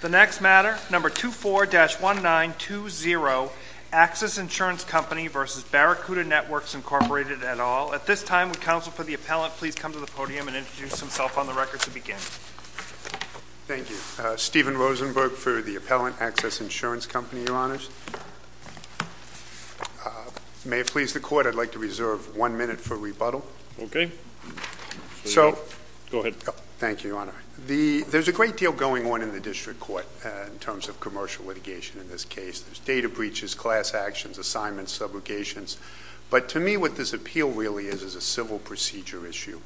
The next matter, No. 24-1920, Axis Insurance Company v. Barracuda Networks, Inc., et al. At this time, would counsel for the appellant please come to the podium and introduce himself on the record to begin? Thank you. Stephen Rosenberg for the appellant, Axis Insurance Company, Your Honors. May it please the Court, I'd like to reserve one minute for rebuttal. Okay. Go ahead. Thank you, Your Honor. There's a great deal going on in the district court in terms of commercial litigation in this case. There's data breaches, class actions, assignments, subrogations. But to me what this appeal really is is a civil procedure issue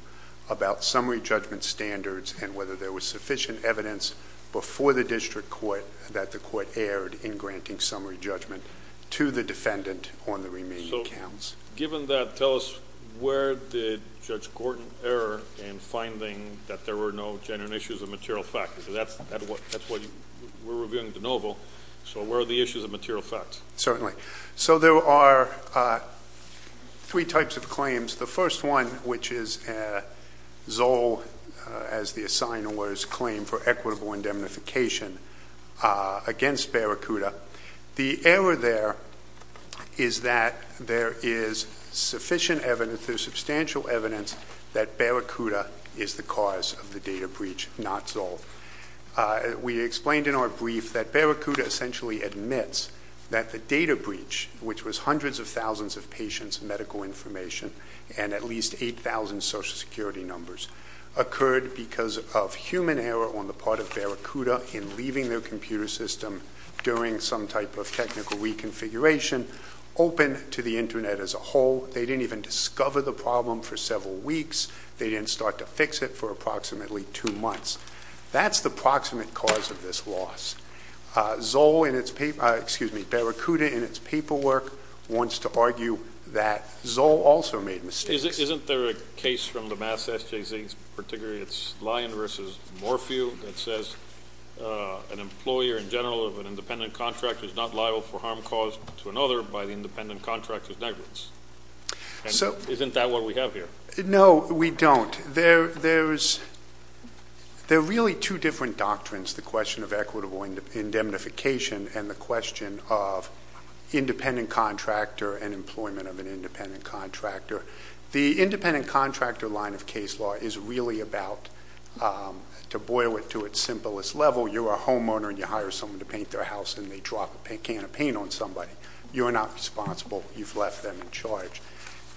about summary judgment standards and whether there was sufficient evidence before the district court that the court erred in granting summary judgment to the defendant on the remaining counts. Given that, tell us where did Judge Gorton err in finding that there were no genuine issues of material facts? Because that's what we're reviewing de novo. So where are the issues of material facts? Certainly. So there are three types of claims. The first one, which is Zoll, as the assignment was, claimed for equitable indemnification against Barracuda. The error there is that there is sufficient evidence, there's substantial evidence, that Barracuda is the cause of the data breach, not Zoll. We explained in our brief that Barracuda essentially admits that the data breach, which was hundreds of thousands of patients' medical information and at least 8,000 Social Security numbers, occurred because of human error on the part of Barracuda in leaving their computer system during some type of technical reconfiguration, open to the Internet as a whole. They didn't even discover the problem for several weeks. They didn't start to fix it for approximately two months. That's the proximate cause of this loss. Barracuda, in its paperwork, wants to argue that Zoll also made mistakes. Isn't there a case from the Mass. SJC particularly, it's Lyon v. Morphew, that says an employer in general of an independent contractor is not liable for harm caused to another by the independent contractor's negligence? Isn't that what we have here? No, we don't. There are really two different doctrines, the question of equitable indemnification and the question of independent contractor and employment of an independent contractor. The independent contractor line of case law is really about, to boil it to its simplest level, you're a homeowner and you hire someone to paint their house and they drop a can of paint on somebody. You're not responsible. You've left them in charge.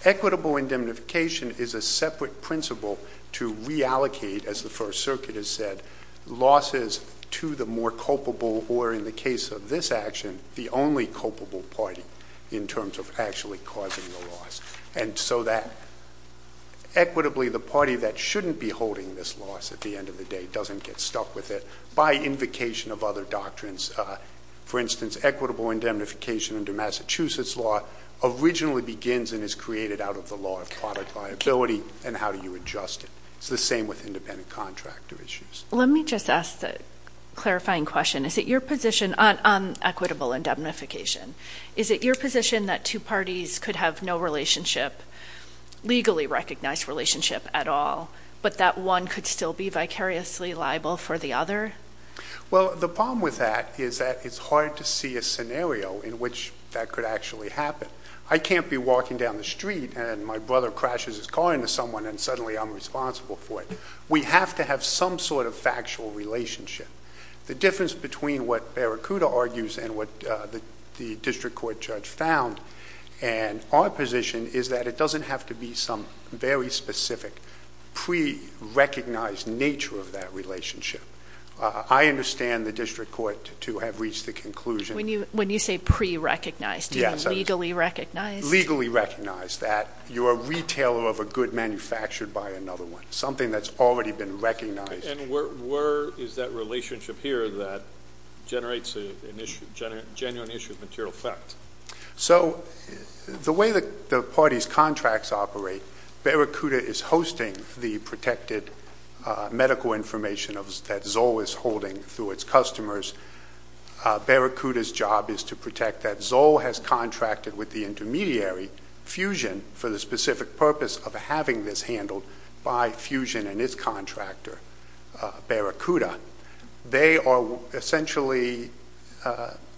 Equitable indemnification is a separate principle to reallocate, as the First Circuit has said, losses to the more culpable or, in the case of this action, the only culpable party in terms of actually causing the loss. And so that, equitably, the party that shouldn't be holding this loss at the end of the day doesn't get stuck with it by invocation of other doctrines. For instance, equitable indemnification under Massachusetts law originally begins and is created out of the law of product liability and how do you adjust it. It's the same with independent contractor issues. Let me just ask a clarifying question. Is it your position on equitable indemnification, is it your position that two parties could have no relationship, legally recognized relationship at all, but that one could still be vicariously liable for the other? Well, the problem with that is that it's hard to see a scenario in which that could actually happen. I can't be walking down the street and my brother crashes his car into someone and suddenly I'm responsible for it. We have to have some sort of factual relationship. The difference between what Barracuda argues and what the district court judge found and our position is that it doesn't have to be some very specific pre-recognized nature of that relationship. I understand the district court to have reached the conclusion. When you say pre-recognized, do you mean legally recognized? Legally recognized, that you're a retailer of a good manufactured by another one, something that's already been recognized. And where is that relationship here that generates a genuine issue of material effect? So the way that the parties' contracts operate, Barracuda is hosting the protected medical information that Zoll is holding through its customers. Barracuda's job is to protect that Zoll has contracted with the intermediary, Fusion, for the specific purpose of having this handled by Fusion and its contractor, Barracuda. They are essentially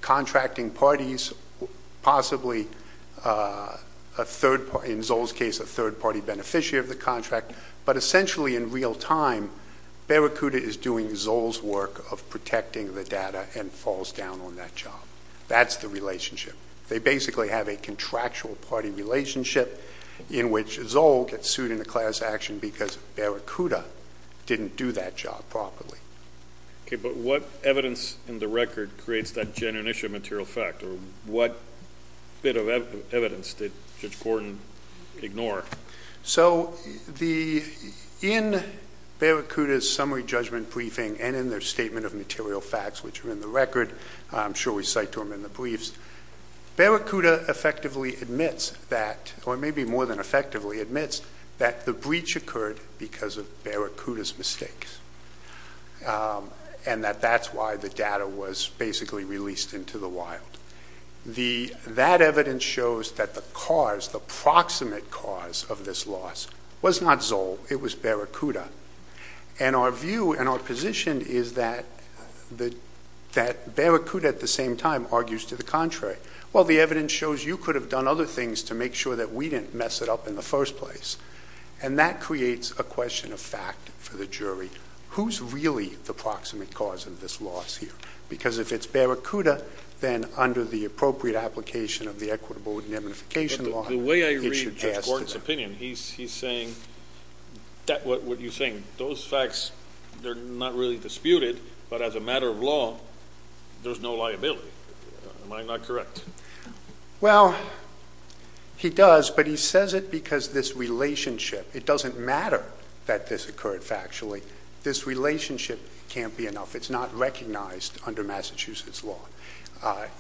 contracting parties, possibly in Zoll's case a third-party beneficiary of the contract, but essentially in real time, Barracuda is doing Zoll's work of protecting the data and falls down on that job. That's the relationship. They basically have a contractual party relationship in which Zoll gets sued in a class action because Barracuda didn't do that job properly. Okay, but what evidence in the record creates that genuine issue of material effect, or what bit of evidence did Judge Gordon ignore? So in Barracuda's summary judgment briefing and in their statement of material facts, which are in the record, I'm sure we cite to them in the briefs, Barracuda effectively admits that, or maybe more than effectively admits, that the breach occurred because of Barracuda's mistakes and that that's why the data was basically released into the wild. That evidence shows that the cause, the proximate cause of this loss, was not Zoll. It was Barracuda. And our view and our position is that Barracuda at the same time argues to the contrary. Well, the evidence shows you could have done other things to make sure that we didn't mess it up in the first place, and that creates a question of fact for the jury. Who's really the proximate cause of this loss here? Because if it's Barracuda, then under the appropriate application of the equitable indemnification law, it should pass. In the court's opinion, he's saying what you're saying. Those facts, they're not really disputed, but as a matter of law, there's no liability. Am I not correct? Well, he does, but he says it because this relationship, it doesn't matter that this occurred factually. This relationship can't be enough. It's not recognized under Massachusetts law.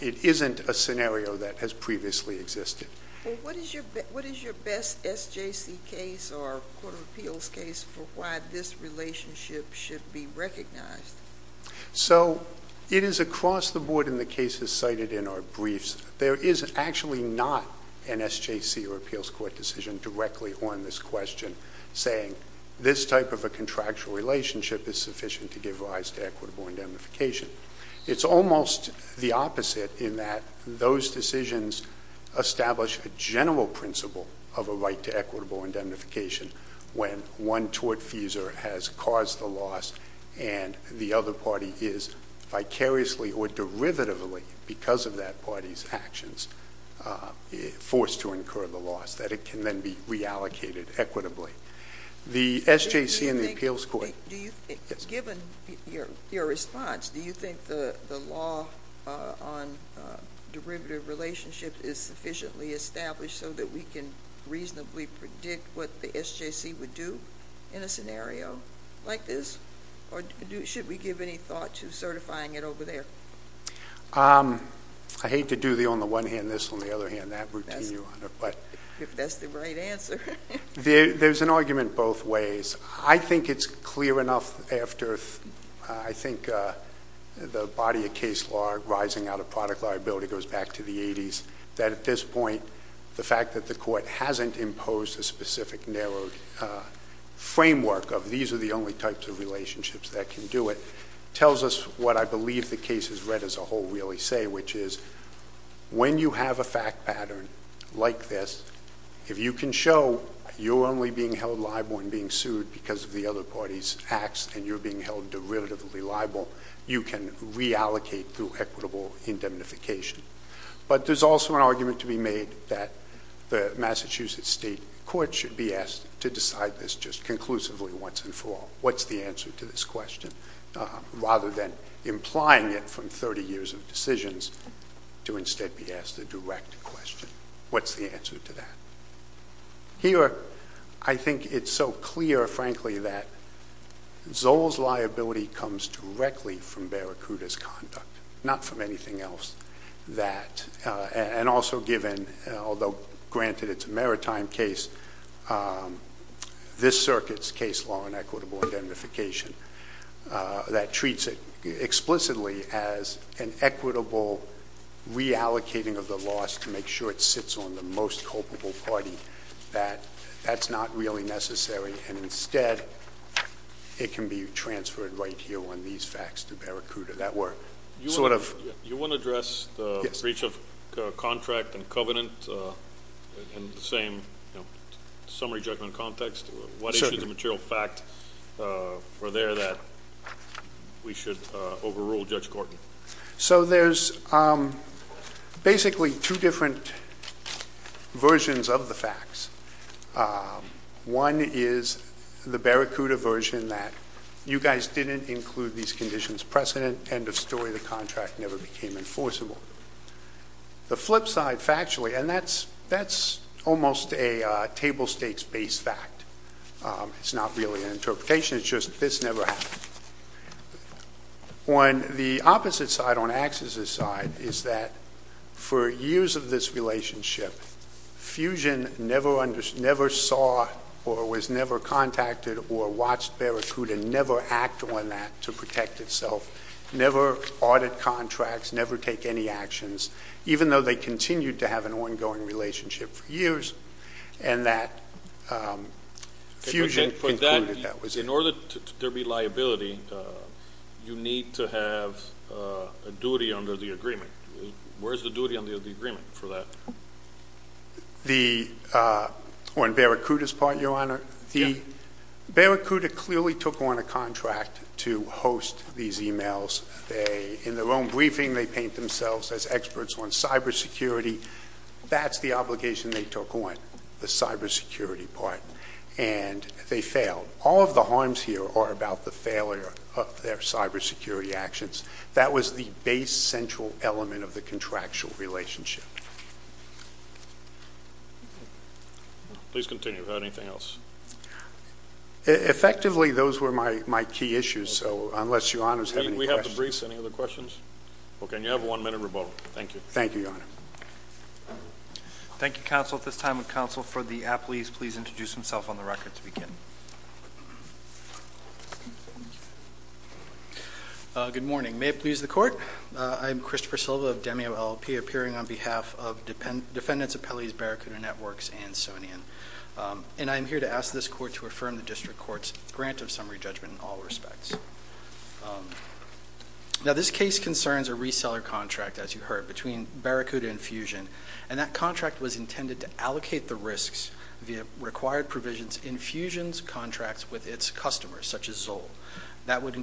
It isn't a scenario that has previously existed. Well, what is your best SJC case or court of appeals case for why this relationship should be recognized? So it is across the board in the cases cited in our briefs. There is actually not an SJC or appeals court decision directly on this question saying this type of a contractual relationship is sufficient to give rise to equitable indemnification. It's almost the opposite in that those decisions establish a general principle of a right to equitable indemnification when one tortfeasor has caused the loss and the other party is vicariously or derivatively, because of that party's actions, forced to incur the loss, that it can then be reallocated equitably. The SJC and the appeals court. Given your response, do you think the law on derivative relationships is sufficiently established so that we can reasonably predict what the SJC would do in a scenario like this? Or should we give any thought to certifying it over there? I hate to do the on the one hand this, on the other hand that routine, Your Honor. If that's the right answer. There's an argument both ways. I think it's clear enough after, I think, the body of case law rising out of product liability goes back to the 80s, that at this point, the fact that the court hasn't imposed a specific narrow framework of these are the only types of relationships that can do it, tells us what I believe the case has read as a whole really say, which is when you have a fact pattern like this, if you can show you're only being held liable and being sued because of the other party's acts and you're being held derivatively liable, you can reallocate through equitable indemnification. But there's also an argument to be made that the Massachusetts state court should be asked to decide this just conclusively once and for all. What's the answer to this question? Rather than implying it from 30 years of decisions, to instead be asked a direct question. What's the answer to that? Here, I think it's so clear, frankly, that Zoll's liability comes directly from Barracuda's conduct, not from anything else. And also given, although granted it's a maritime case, this circuit's case law on equitable indemnification, that treats it explicitly as an equitable reallocating of the loss to make sure it sits on the most culpable party. That's not really necessary. And instead, it can be transferred right here on these facts to Barracuda. You want to address the breach of contract and covenant in the same summary judgment context? What issues of material fact were there that we should overrule Judge Gorton? So there's basically two different versions of the facts. One is the Barracuda version that you guys didn't include these conditions precedent. End of story. The contract never became enforceable. The flip side, factually, and that's almost a table stakes based fact. It's not really an interpretation. It's just this never happened. On the opposite side, on Axis's side, is that for years of this relationship, Fusion never saw or was never contacted or watched Barracuda never act on that to protect itself, never audit contracts, never take any actions, even though they continued to have an ongoing relationship for years, and that Fusion concluded that was it. In order for there to be liability, you need to have a duty under the agreement. Where's the duty under the agreement for that? On Barracuda's part, Your Honor, Barracuda clearly took on a contract to host these emails. In their own briefing, they paint themselves as experts on cybersecurity. That's the obligation they took on, the cybersecurity part, and they failed. All of the harms here are about the failure of their cybersecurity actions. That was the base central element of the contractual relationship. Please continue. Anything else? Effectively, those were my key issues, so unless Your Honor has any questions. We have the briefs. Any other questions? Okay, and you have one minute rebuttal. Thank you. Thank you, Your Honor. Thank you, counsel. At this time, would counsel for the appellees please introduce themselves on the record to begin? Good morning. May it please the Court, I'm Christopher Silva of DEMEO LLP, appearing on behalf of Defendants Appellees Barracuda Networks and Sonian. And I'm here to ask this Court to affirm the District Court's grant of summary judgment in all respects. Now, this case concerns a reseller contract, as you heard, between Barracuda and Fusion, and that contract was intended to allocate the risks, the required provisions, in Fusion's contracts with its customers, such as Zoll. That would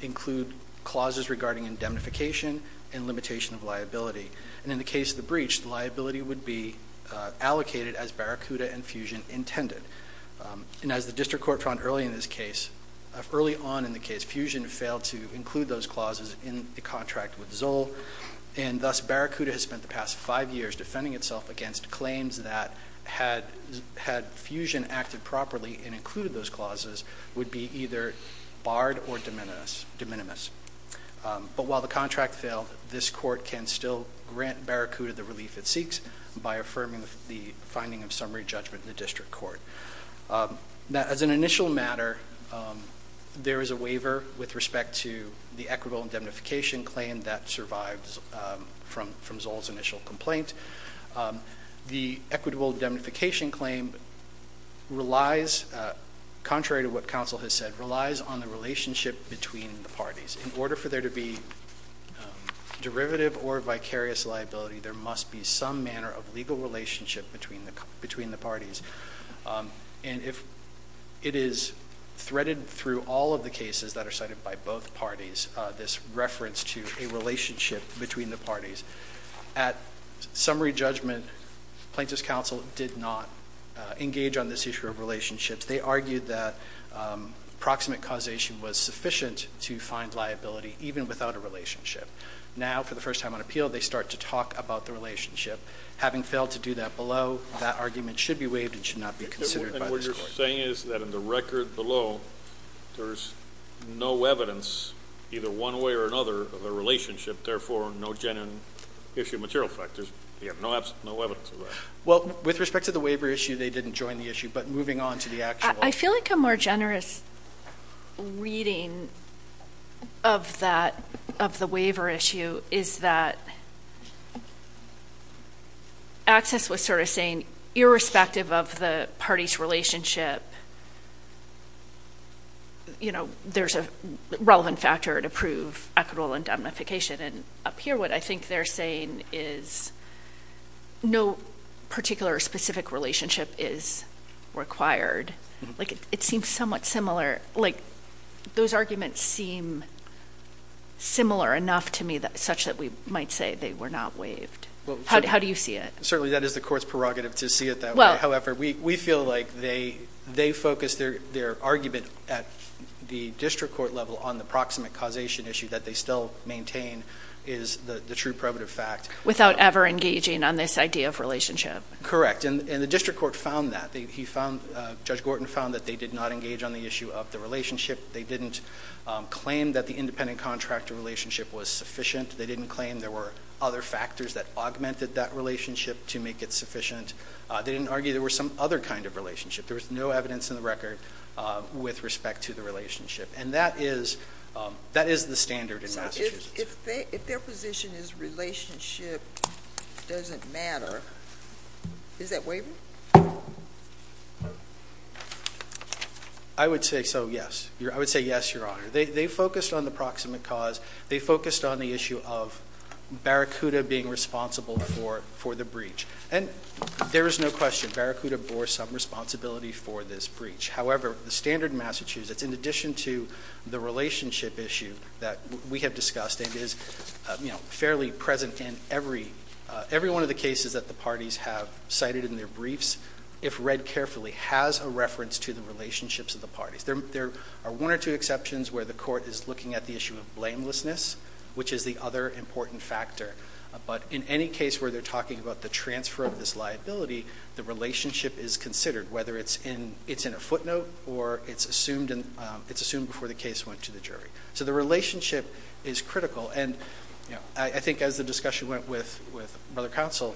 include clauses regarding indemnification and limitation of liability. And in the case of the breach, the liability would be allocated as Barracuda and Fusion intended. And as the District Court found early on in the case, Fusion failed to include those clauses in the contract with Zoll, and thus Barracuda has spent the past five years defending itself against claims that, had Fusion acted properly and included those clauses, would be either barred or de minimis. But while the contract failed, this Court can still grant Barracuda the relief it seeks by affirming the finding of summary judgment in the District Court. Now, as an initial matter, there is a waiver with respect to the equitable indemnification claim that survives from Zoll's initial complaint. The equitable indemnification claim relies, contrary to what counsel has said, relies on the relationship between the parties. In order for there to be derivative or vicarious liability, there must be some manner of legal relationship between the parties. And it is threaded through all of the cases that are cited by both parties, this reference to a relationship between the parties. At summary judgment, plaintiff's counsel did not engage on this issue of relationships. They argued that proximate causation was sufficient to find liability, even without a relationship. Now, for the first time on appeal, they start to talk about the relationship. Having failed to do that below, that argument should be waived and should not be considered by this Court. And what you're saying is that in the record below, there's no evidence, either one way or another, of a relationship, therefore no genuine issue of material factors. You have no evidence of that. Well, with respect to the waiver issue, they didn't join the issue. But moving on to the actual... I feel like a more generous reading of that, of the waiver issue, is that access was sort of saying, irrespective of the party's relationship, you know, there's a relevant factor to prove equitable indemnification. And up here, what I think they're saying is no particular or specific relationship is required. Like, it seems somewhat similar. Like, those arguments seem similar enough to me, such that we might say they were not waived. How do you see it? Certainly, that is the Court's prerogative to see it that way. However, we feel like they focused their argument at the district court level on the proximate causation issue that they still maintain is the true probative fact. Without ever engaging on this idea of relationship. Correct. And the district court found that. Judge Gorton found that they did not engage on the issue of the relationship. They didn't claim that the independent contractor relationship was sufficient. They didn't claim there were other factors that augmented that relationship to make it sufficient. They didn't argue there were some other kind of relationship. There was no evidence in the record with respect to the relationship. And that is the standard in Massachusetts. If their position is relationship doesn't matter, is that waiver? I would say so, yes. I would say yes, Your Honor. They focused on the proximate cause. They focused on the issue of Barracuda being responsible for the breach. And there is no question. Barracuda bore some responsibility for this breach. However, the standard in Massachusetts, in addition to the relationship issue that we have discussed, and is fairly present in every one of the cases that the parties have cited in their briefs, if read carefully, has a reference to the relationships of the parties. There are one or two exceptions where the court is looking at the issue of blamelessness, which is the other important factor. But in any case where they're talking about the transfer of this liability, the relationship is considered, whether it's in a footnote or it's assumed before the case went to the jury. So the relationship is critical. And I think as the discussion went with Brother Counsel,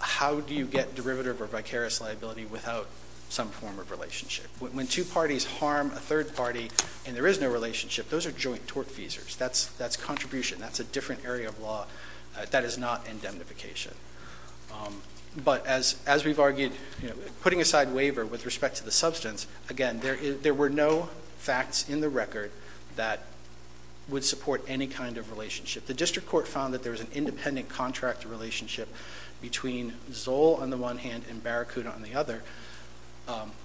how do you get derivative or vicarious liability without some form of relationship? When two parties harm a third party and there is no relationship, those are joint tortfeasors. That's contribution. That's a different area of law. That is not indemnification. But as we've argued, putting aside waiver with respect to the substance, again, there were no facts in the record that would support any kind of relationship. The district court found that there was an independent contractor relationship between Zoll on the one hand and Barracuda on the other.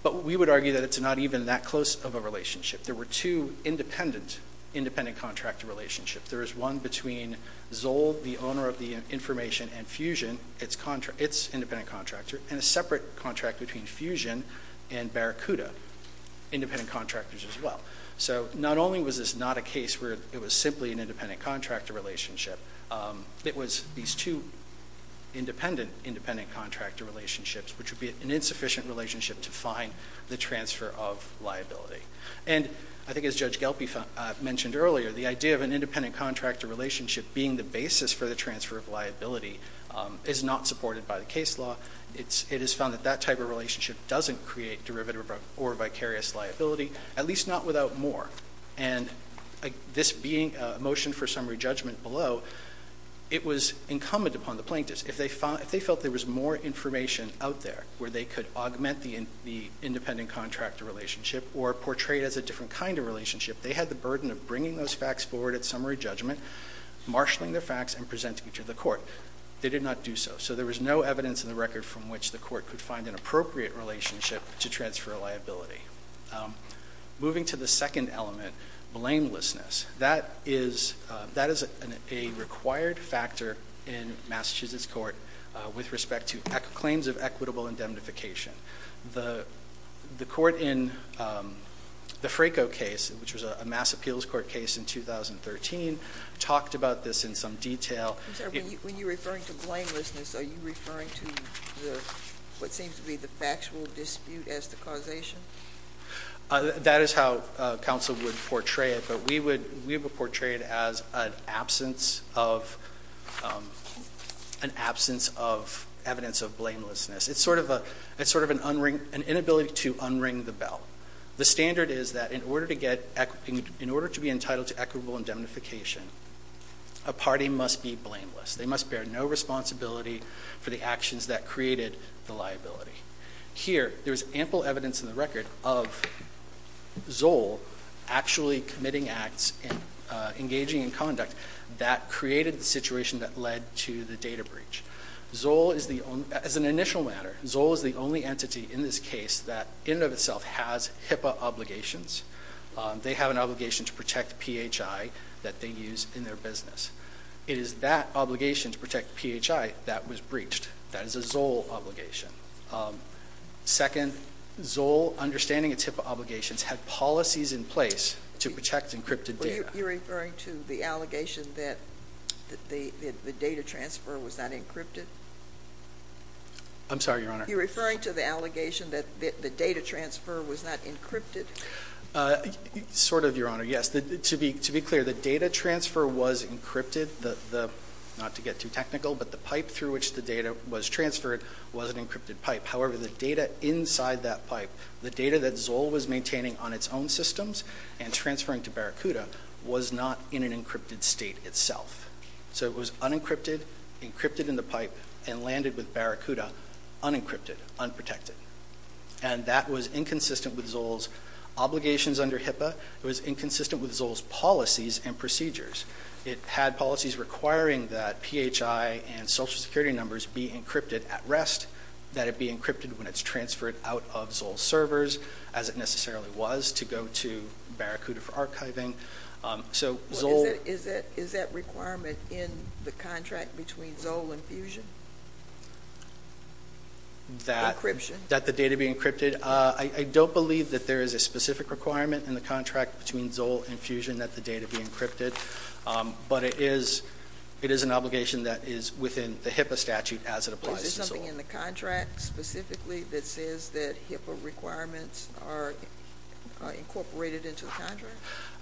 But we would argue that it's not even that close of a relationship. There were two independent contractor relationships. There is one between Zoll, the owner of the information, and Fusion, its independent contractor, and a separate contract between Fusion and Barracuda, independent contractors as well. So not only was this not a case where it was simply an independent contractor relationship, it was these two independent, independent contractor relationships, which would be an insufficient relationship to find the transfer of liability. And I think as Judge Gelpie mentioned earlier, the idea of an independent contractor relationship being the basis for the transfer of liability is not supported by the case law. It is found that that type of relationship doesn't create derivative or vicarious liability, at least not without more. And this being a motion for summary judgment below, it was incumbent upon the plaintiffs, if they felt there was more information out there where they could augment the independent contractor relationship or portray it as a different kind of relationship, they had the burden of bringing those facts forward at summary judgment, marshalling the facts, and presenting it to the court. They did not do so. So there was no evidence in the record from which the court could find an appropriate relationship to transfer liability. Moving to the second element, blamelessness. That is a required factor in Massachusetts court with respect to claims of equitable indemnification. The court in the Fraco case, which was a Mass Appeals Court case in 2013, talked about this in some detail. I'm sorry, when you're referring to blamelessness, are you referring to what seems to be the factual dispute as the causation? That is how counsel would portray it. But we would portray it as an absence of evidence of blamelessness. It's sort of an inability to unring the bell. The standard is that in order to be entitled to equitable indemnification, a party must be blameless. They must bear no responsibility for the actions that created the liability. Here, there's ample evidence in the record of Zoll actually committing acts and engaging in conduct that created the situation that led to the data breach. As an initial matter, Zoll is the only entity in this case that in and of itself has HIPAA obligations. They have an obligation to protect PHI that they use in their business. It is that obligation to protect PHI that was breached. That is a Zoll obligation. Second, Zoll, understanding its HIPAA obligations, had policies in place to protect encrypted data. Are you referring to the allegation that the data transfer was not encrypted? I'm sorry, Your Honor. Are you referring to the allegation that the data transfer was not encrypted? Sort of, Your Honor, yes. To be clear, the data transfer was encrypted. Not to get too technical, but the pipe through which the data was transferred was an encrypted pipe. However, the data inside that pipe, the data that Zoll was maintaining on its own systems and transferring to Barracuda was not in an encrypted state itself. So it was unencrypted, encrypted in the pipe, and landed with Barracuda unencrypted, unprotected. And that was inconsistent with Zoll's obligations under HIPAA. It was inconsistent with Zoll's policies and procedures. It had policies requiring that PHI and Social Security numbers be encrypted at rest, that it be encrypted when it's transferred out of Zoll's servers, as it necessarily was, to go to Barracuda for archiving. Is that requirement in the contract between Zoll and Fusion? Encryption. That the data be encrypted. I don't believe that there is a specific requirement in the contract between Zoll and Fusion that the data be encrypted. But it is an obligation that is within the HIPAA statute as it applies to Zoll. Is there something in the contract specifically that says that HIPAA requirements are incorporated into the contract?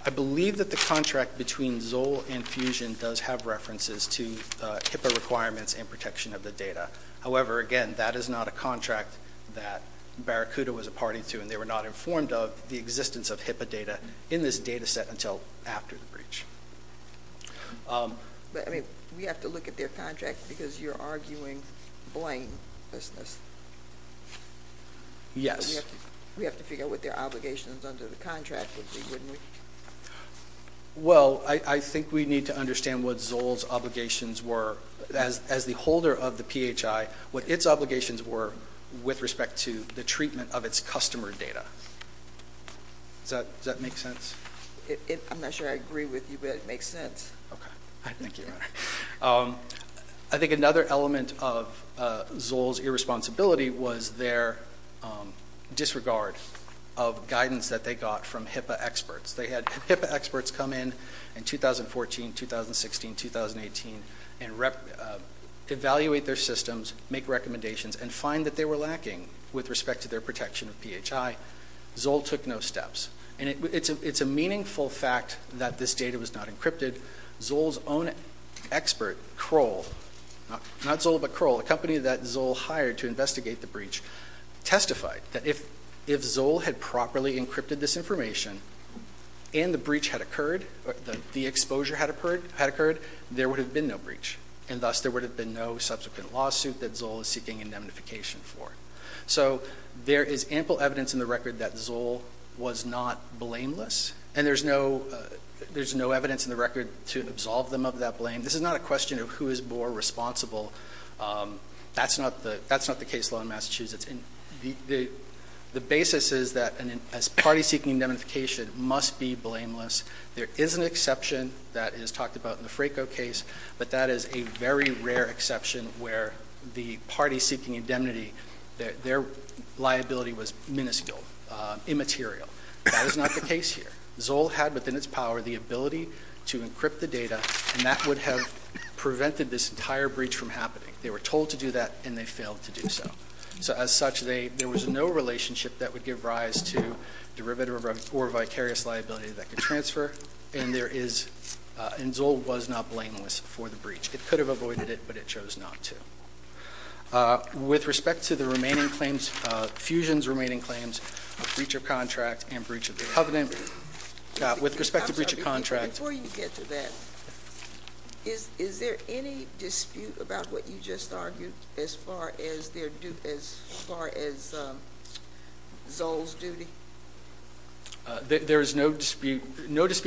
I believe that the contract between Zoll and Fusion does have references to HIPAA requirements and protection of the data. However, again, that is not a contract that Barracuda was a party to, and they were not informed of the existence of HIPAA data in this data set until after the breach. But, I mean, we have to look at their contract because you're arguing blamelessness. Yes. We have to figure out what their obligations under the contract would be, wouldn't we? Well, I think we need to understand what Zoll's obligations were. As the holder of the PHI, what its obligations were with respect to the treatment of its customer data. Does that make sense? I'm not sure I agree with you, but it makes sense. Okay. Thank you. I think another element of Zoll's irresponsibility was their disregard of guidance that they got from HIPAA experts. They had HIPAA experts come in in 2014, 2016, 2018 and evaluate their systems, make recommendations, and find that they were lacking with respect to their protection of PHI. Zoll took no steps. And it's a meaningful fact that this data was not encrypted. Zoll's own expert, Kroll, not Zoll but Kroll, a company that Zoll hired to investigate the breach, testified that if Zoll had properly encrypted this information and the breach had occurred, the exposure had occurred, there would have been no breach, and thus there would have been no subsequent lawsuit that Zoll is seeking indemnification for. So there is ample evidence in the record that Zoll was not blameless, and there's no evidence in the record to absolve them of that blame. This is not a question of who is more responsible. That's not the case law in Massachusetts. The basis is that a party seeking indemnification must be blameless. There is an exception that is talked about in the Fraco case, but that is a very rare exception where the party seeking indemnity, their liability was minuscule, immaterial. That is not the case here. Zoll had within its power the ability to encrypt the data, and that would have prevented this entire breach from happening. They were told to do that, and they failed to do so. So as such, there was no relationship that would give rise to derivative or vicarious liability that could transfer, and Zoll was not blameless for the breach. It could have avoided it, but it chose not to. With respect to the remaining claims, Fusion's remaining claims, breach of contract and breach of the covenant, with respect to breach of contract. Before you get to that, is there any dispute about what you just argued as far as Zoll's duty? There is no dispute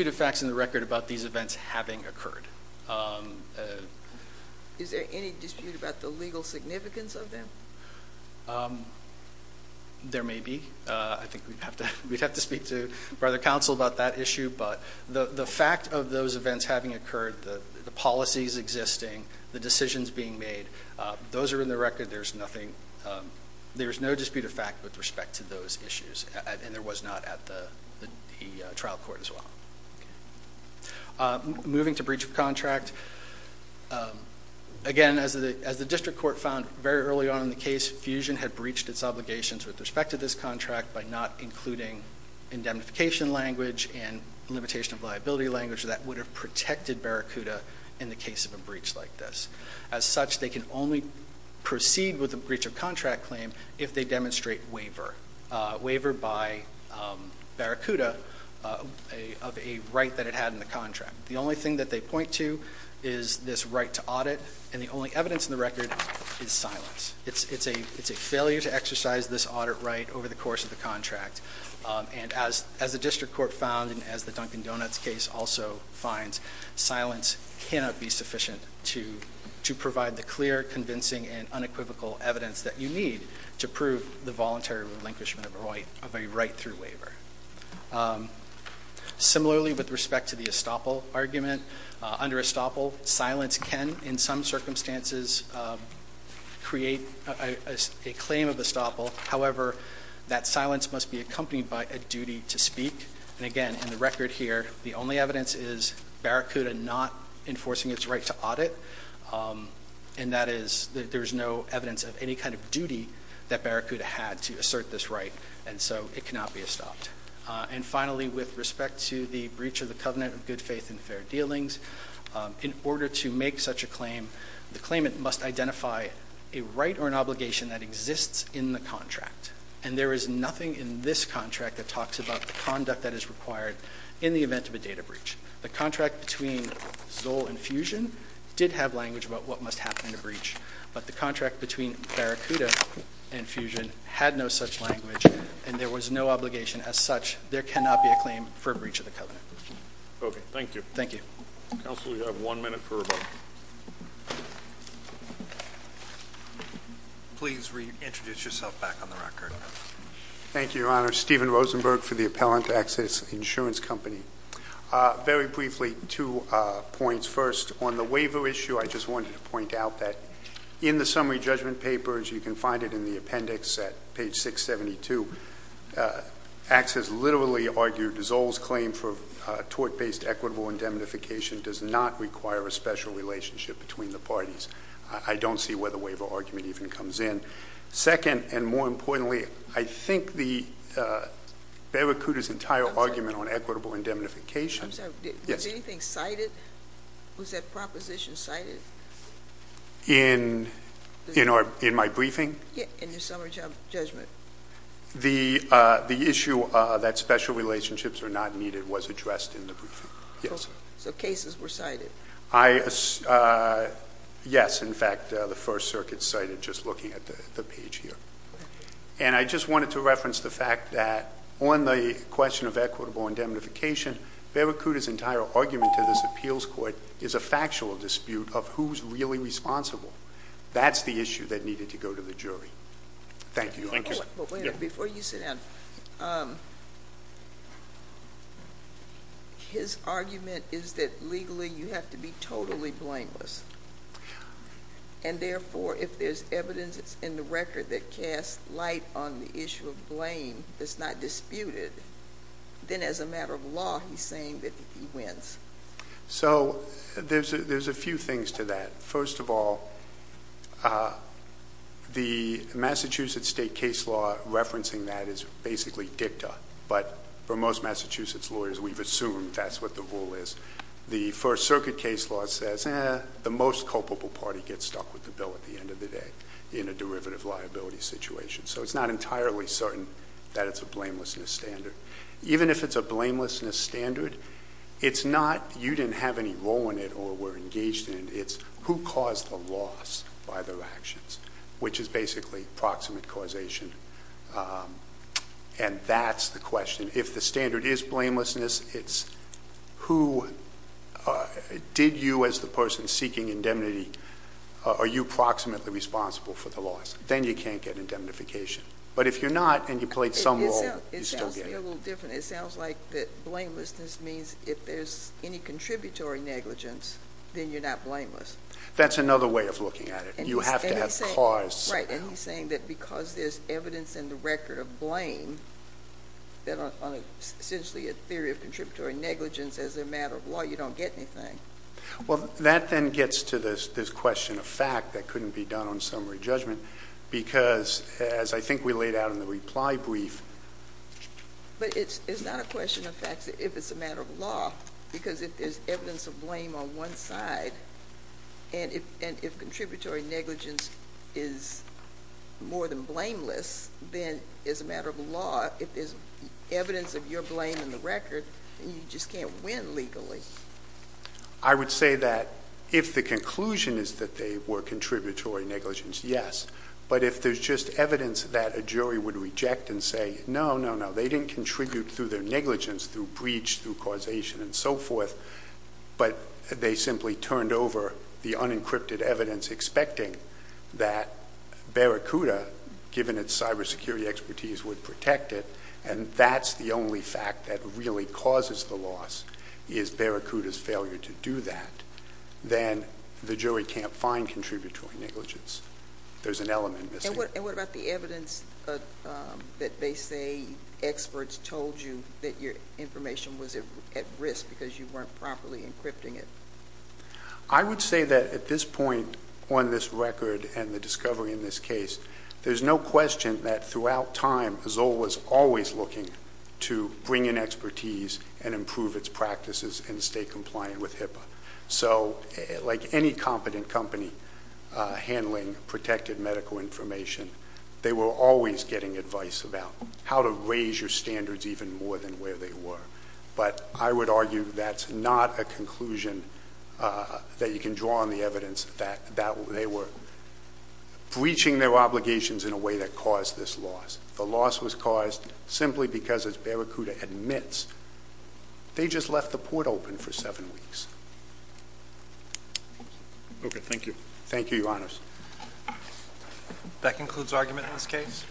of facts in the record about these events having occurred. Is there any dispute about the legal significance of them? There may be. I think we'd have to speak to Brother Counsel about that issue, but the fact of those events having occurred, the policies existing, the decisions being made, those are in the record. There's no dispute of fact with respect to those issues, and there was not at the trial court as well. Moving to breach of contract, again, as the district court found very early on in the case, Fusion had breached its obligations with respect to this contract by not including indemnification language and limitation of liability language that would have protected Barracuda in the case of a breach like this. As such, they can only proceed with a breach of contract claim if they demonstrate waiver, waiver by Barracuda of a right that it had in the contract. The only thing that they point to is this right to audit, and the only evidence in the record is silence. It's a failure to exercise this audit right over the course of the contract. And as the district court found and as the Dunkin Donuts case also finds, silence cannot be sufficient to provide the clear, convincing, and unequivocal evidence that you need to prove the voluntary relinquishment of a right through waiver. Similarly, with respect to the estoppel argument, under estoppel, silence can, in some circumstances, create a claim of estoppel. However, that silence must be accompanied by a duty to speak. And again, in the record here, the only evidence is Barracuda not enforcing its right to audit, and that is that there is no evidence of any kind of duty that Barracuda had to assert this right, and so it cannot be estopped. And finally, with respect to the breach of the covenant of good faith and fair dealings, in order to make such a claim, the claimant must identify a right or an obligation that exists in the contract. And there is nothing in this contract that talks about the conduct that is required in the event of a data breach. The contract between Zoll and Fusion did have language about what must happen in a breach, but the contract between Barracuda and Fusion had no such language, and there was no obligation. As such, there cannot be a claim for a breach of the covenant. Okay, thank you. Thank you. Counsel, you have one minute for rebuttal. Please reintroduce yourself back on the record. Thank you, Your Honor. Steven Rosenberg for the appellant, Access Insurance Company. Very briefly, two points. First, on the waiver issue, I just wanted to point out that in the summary judgment papers, you can find it in the appendix at page 672. Access literally argued Zoll's claim for tort-based equitable indemnification does not require a special relationship between the parties. I don't see where the waiver argument even comes in. Second, and more importantly, I think the Barracuda's entire argument on equitable indemnification. I'm sorry, was anything cited? Was that proposition cited? In my briefing? Yeah, in your summary judgment. The issue that special relationships are not needed was addressed in the briefing, yes. So cases were cited. Yes, in fact, the First Circuit cited just looking at the page here. And I just wanted to reference the fact that on the question of equitable indemnification, Barracuda's entire argument to this appeals court is a factual dispute of who's really responsible. That's the issue that needed to go to the jury. Thank you. Before you sit down, his argument is that legally you have to be totally blameless. And therefore, if there's evidence in the record that casts light on the issue of blame that's not disputed, then as a matter of law, he's saying that he wins. So there's a few things to that. First of all, the Massachusetts state case law referencing that is basically dicta. But for most Massachusetts lawyers, we've assumed that's what the rule is. The First Circuit case law says the most culpable party gets stuck with the bill at the end of the day in a derivative liability situation. So it's not entirely certain that it's a blamelessness standard. Even if it's a blamelessness standard, it's not you didn't have any role in it or were engaged in it. It's who caused the loss by their actions, which is basically proximate causation. And that's the question. If the standard is blamelessness, it's who did you as the person seeking indemnity, are you proximately responsible for the loss? Then you can't get indemnification. But if you're not and you played some role, you still get it. It sounds a little different. It sounds like that blamelessness means if there's any contributory negligence, then you're not blameless. That's another way of looking at it. You have to have cause. Right. And he's saying that because there's evidence in the record of blame, that on essentially a theory of contributory negligence as a matter of law, you don't get anything. Well, that then gets to this question of fact that couldn't be done on summary judgment because as I think we laid out in the reply brief. But it's not a question of facts if it's a matter of law because if there's evidence of blame on one side and if contributory negligence is more than blameless, then as a matter of law, if there's evidence of your blame in the record, then you just can't win legally. I would say that if the conclusion is that they were contributory negligence, yes. But if there's just evidence that a jury would reject and say, no, no, no, they didn't contribute through their negligence, through breach, through causation and so forth, but they simply turned over the unencrypted evidence expecting that Barracuda, given its cybersecurity expertise, would protect it, and that's the only fact that really causes the loss is Barracuda's failure to do that, then the jury can't find contributory negligence. There's an element missing. And what about the evidence that they say experts told you that your information was at risk because you weren't properly encrypting it? I would say that at this point on this record and the discovery in this case, there's no question that throughout time Zoll was always looking to bring in expertise and improve its practices and stay compliant with HIPAA. So like any competent company handling protected medical information, they were always getting advice about how to raise your standards even more than where they were. But I would argue that's not a conclusion that you can draw on the evidence that they were breaching their obligations in a way that caused this loss. The loss was caused simply because, as Barracuda admits, they just left the port open for seven weeks. Okay, thank you. Thank you, Your Honors. That concludes argument in this case.